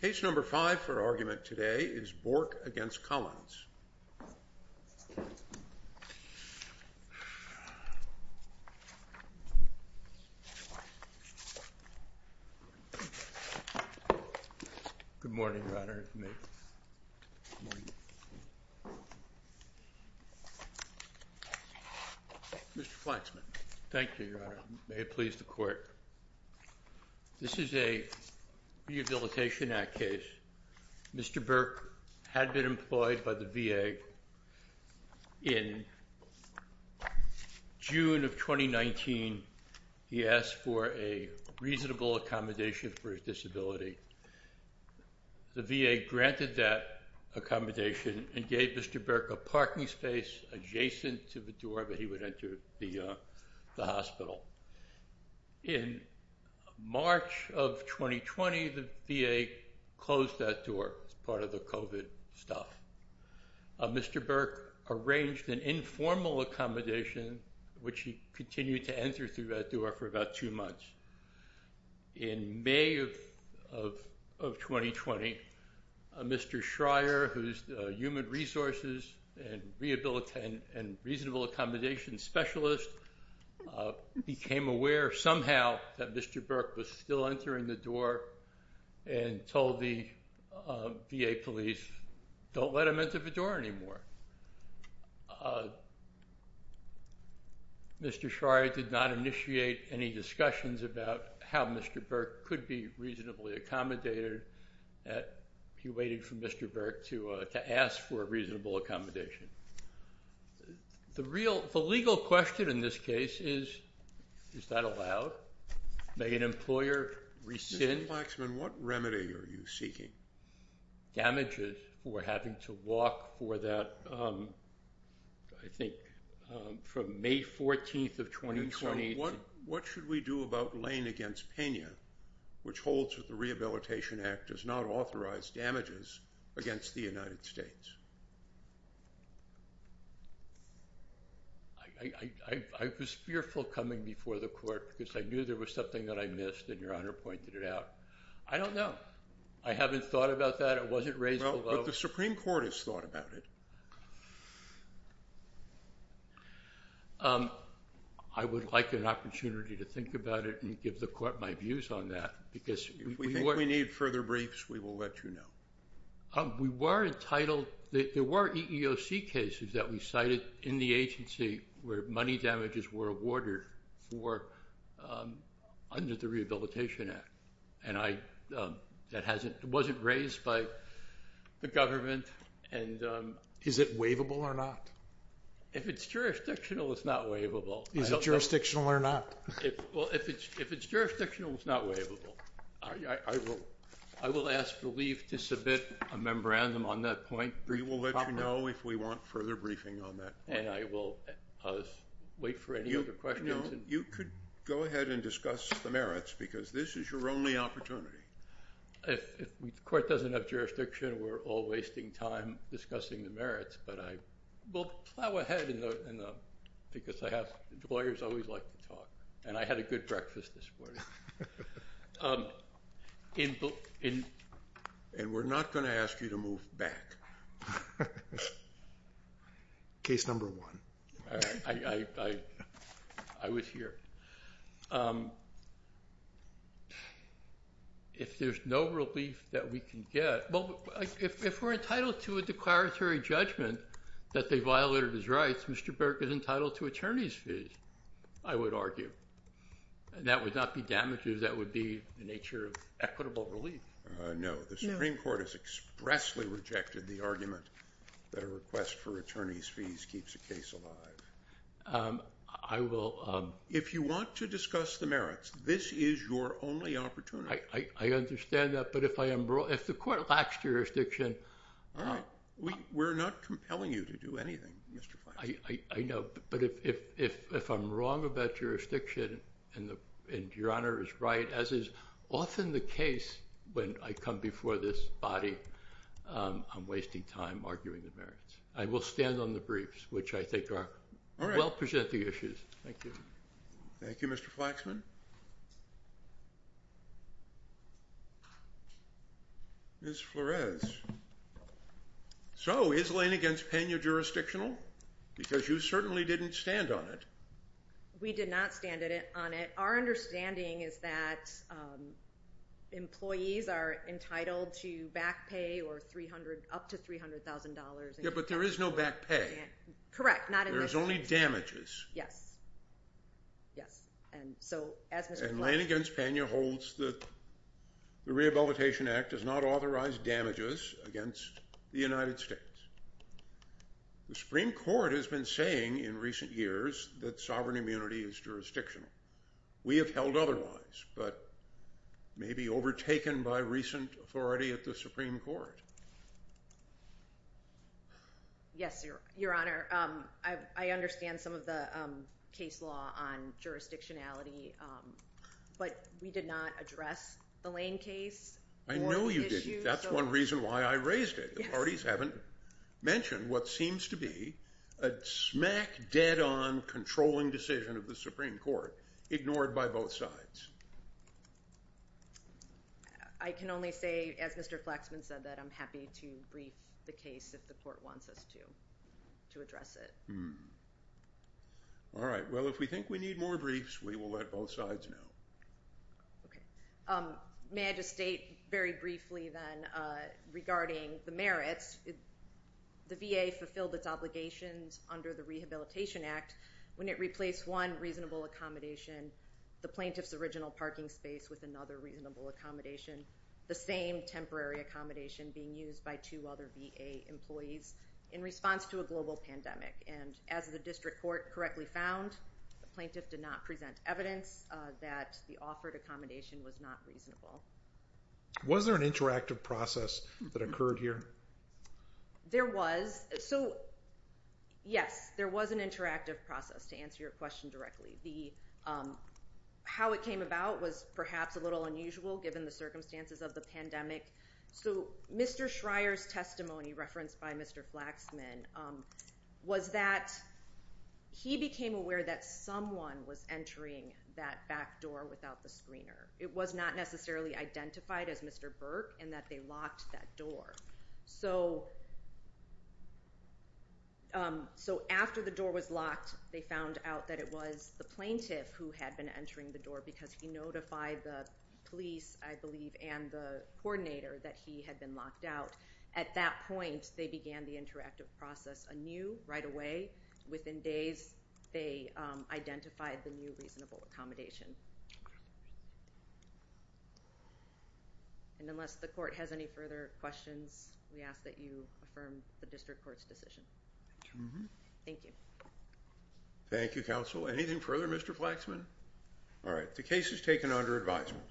Case number five for argument today is Bourke v. Collins. Good morning, Your Honor. Good morning. Mr. Flaxman. Thank you, Your Honor. May it please the Court. This is a Rehabilitation Act case. Mr. Bourke had been employed by the VA. In June of 2019, he asked for a reasonable accommodation for his disability. The VA granted that accommodation and gave Mr. Bourke a parking space adjacent to the door that he would enter the hospital. In March of 2020, the VA closed that door as part of the COVID stuff. Mr. Bourke arranged an informal accommodation, which he continued to enter through that door for about two months. In May of 2020, Mr. Schreier, who's the Human Resources and Rehabilitation and Reasonable Accommodation Specialist, became aware somehow that Mr. Bourke was still entering the door and told the VA police, don't let him enter the door anymore. Mr. Schreier did not initiate any discussions about how Mr. Bourke could be reasonably accommodated. He waited for Mr. Bourke to ask for a reasonable accommodation. The legal question in this case is, is that allowed? May an employer rescind? Mr. Plaxman, what remedy are you seeking? Damages for having to walk for that, I think, from May 14th of 2020. What should we do about Lane v. Pena, which holds that the Rehabilitation Act does not authorize damages against the United States? I was fearful coming before the court because I knew there was something that I missed and Your Honor pointed it out. I don't know. I haven't thought about that. It wasn't raised. But the Supreme Court has thought about it. I would like an opportunity to think about it and give the court my views on that. If we need further briefs, we will let you know. There were EEOC cases that we cited in the agency where money damages were awarded under the Rehabilitation Act. It wasn't raised by the government. Is it waivable or not? If it's jurisdictional, it's not waivable. Is it jurisdictional or not? If it's jurisdictional, it's not waivable. I will ask relief to submit a memorandum on that point. We will let you know if we want further briefing on that. And I will wait for any other questions. You could go ahead and discuss the merits because this is your only opportunity. If the court doesn't have jurisdiction, we're all wasting time discussing the merits. But we'll plow ahead because lawyers always like to talk. And I had a good breakfast this morning. And we're not going to ask you to move back. Case number one. I was here. If there's no relief that we can get... If we're entitled to a declaratory judgment that they violated his rights, Mr. Burke is entitled to attorney's fees, I would argue. And that would not be damages. That would be the nature of equitable relief. No. The Supreme Court has expressly rejected the argument that a request for attorney's fees keeps a case alive. If you want to discuss the merits, this is your only opportunity. I understand that. But if the court lacks jurisdiction... All right. We're not compelling you to do anything, Mr. Flaxman. I know. But if I'm wrong about jurisdiction and Your Honor is right, as is often the case when I come before this body, I'm wasting time arguing the merits. I will stand on the briefs, which I think will present the issues. Thank you. Thank you, Mr. Flaxman. Ms. Flores. So, is Lane against Pena jurisdictional? Because you certainly didn't stand on it. We did not stand on it. Our understanding is that employees are entitled to back pay or up to $300,000. Yeah, but there is no back pay. Correct. Not in this case. There's only damages. Yes. And Lane against Pena holds that the Rehabilitation Act does not authorize damages against the United States. The Supreme Court has been saying in recent years that sovereign immunity is jurisdictional. We have held otherwise, but may be overtaken by recent authority at the Supreme Court. Yes, Your Honor. I understand some of the case law on jurisdictionality, but we did not address the Lane case. I know you didn't. That's one reason why I raised it. The parties haven't mentioned what seems to be a smack-dead-on controlling decision of the Supreme Court, ignored by both sides. I can only say, as Mr. Flaxman said, that I'm happy to brief the case if the court wants us to address it. All right. Well, if we think we need more briefs, we will let both sides know. Okay. May I just state very briefly, then, regarding the merits. The VA fulfilled its obligations under the Rehabilitation Act when it replaced one reasonable accommodation, the plaintiff's original parking space with another reasonable accommodation, the same temporary accommodation being used by two other VA employees in response to a global pandemic. And as the District Court correctly found, the plaintiff did not present evidence that the offered accommodation was not reasonable. Was there an interactive process that occurred here? There was. So, yes, there was an interactive process, to answer your question directly. How it came about was perhaps a little unusual, given the circumstances of the pandemic. So, Mr. Schreyer's story with Mr. Flaxman was that he became aware that someone was entering that back door without the screener. It was not necessarily identified as Mr. Burke, and that they locked that door. So, after the door was locked, they found out that it was the plaintiff who had been entering the door, because he notified the police, I believe, and the coordinator that he had been locked out. At that point, they began the interactive process anew, right away. Within days, they identified the new reasonable accommodation. And unless the Court has any further questions, we ask that you affirm the District Court's decision. Thank you. Thank you, Counsel. Anything further, Mr. Flaxman? All right. The case is taken under advisement.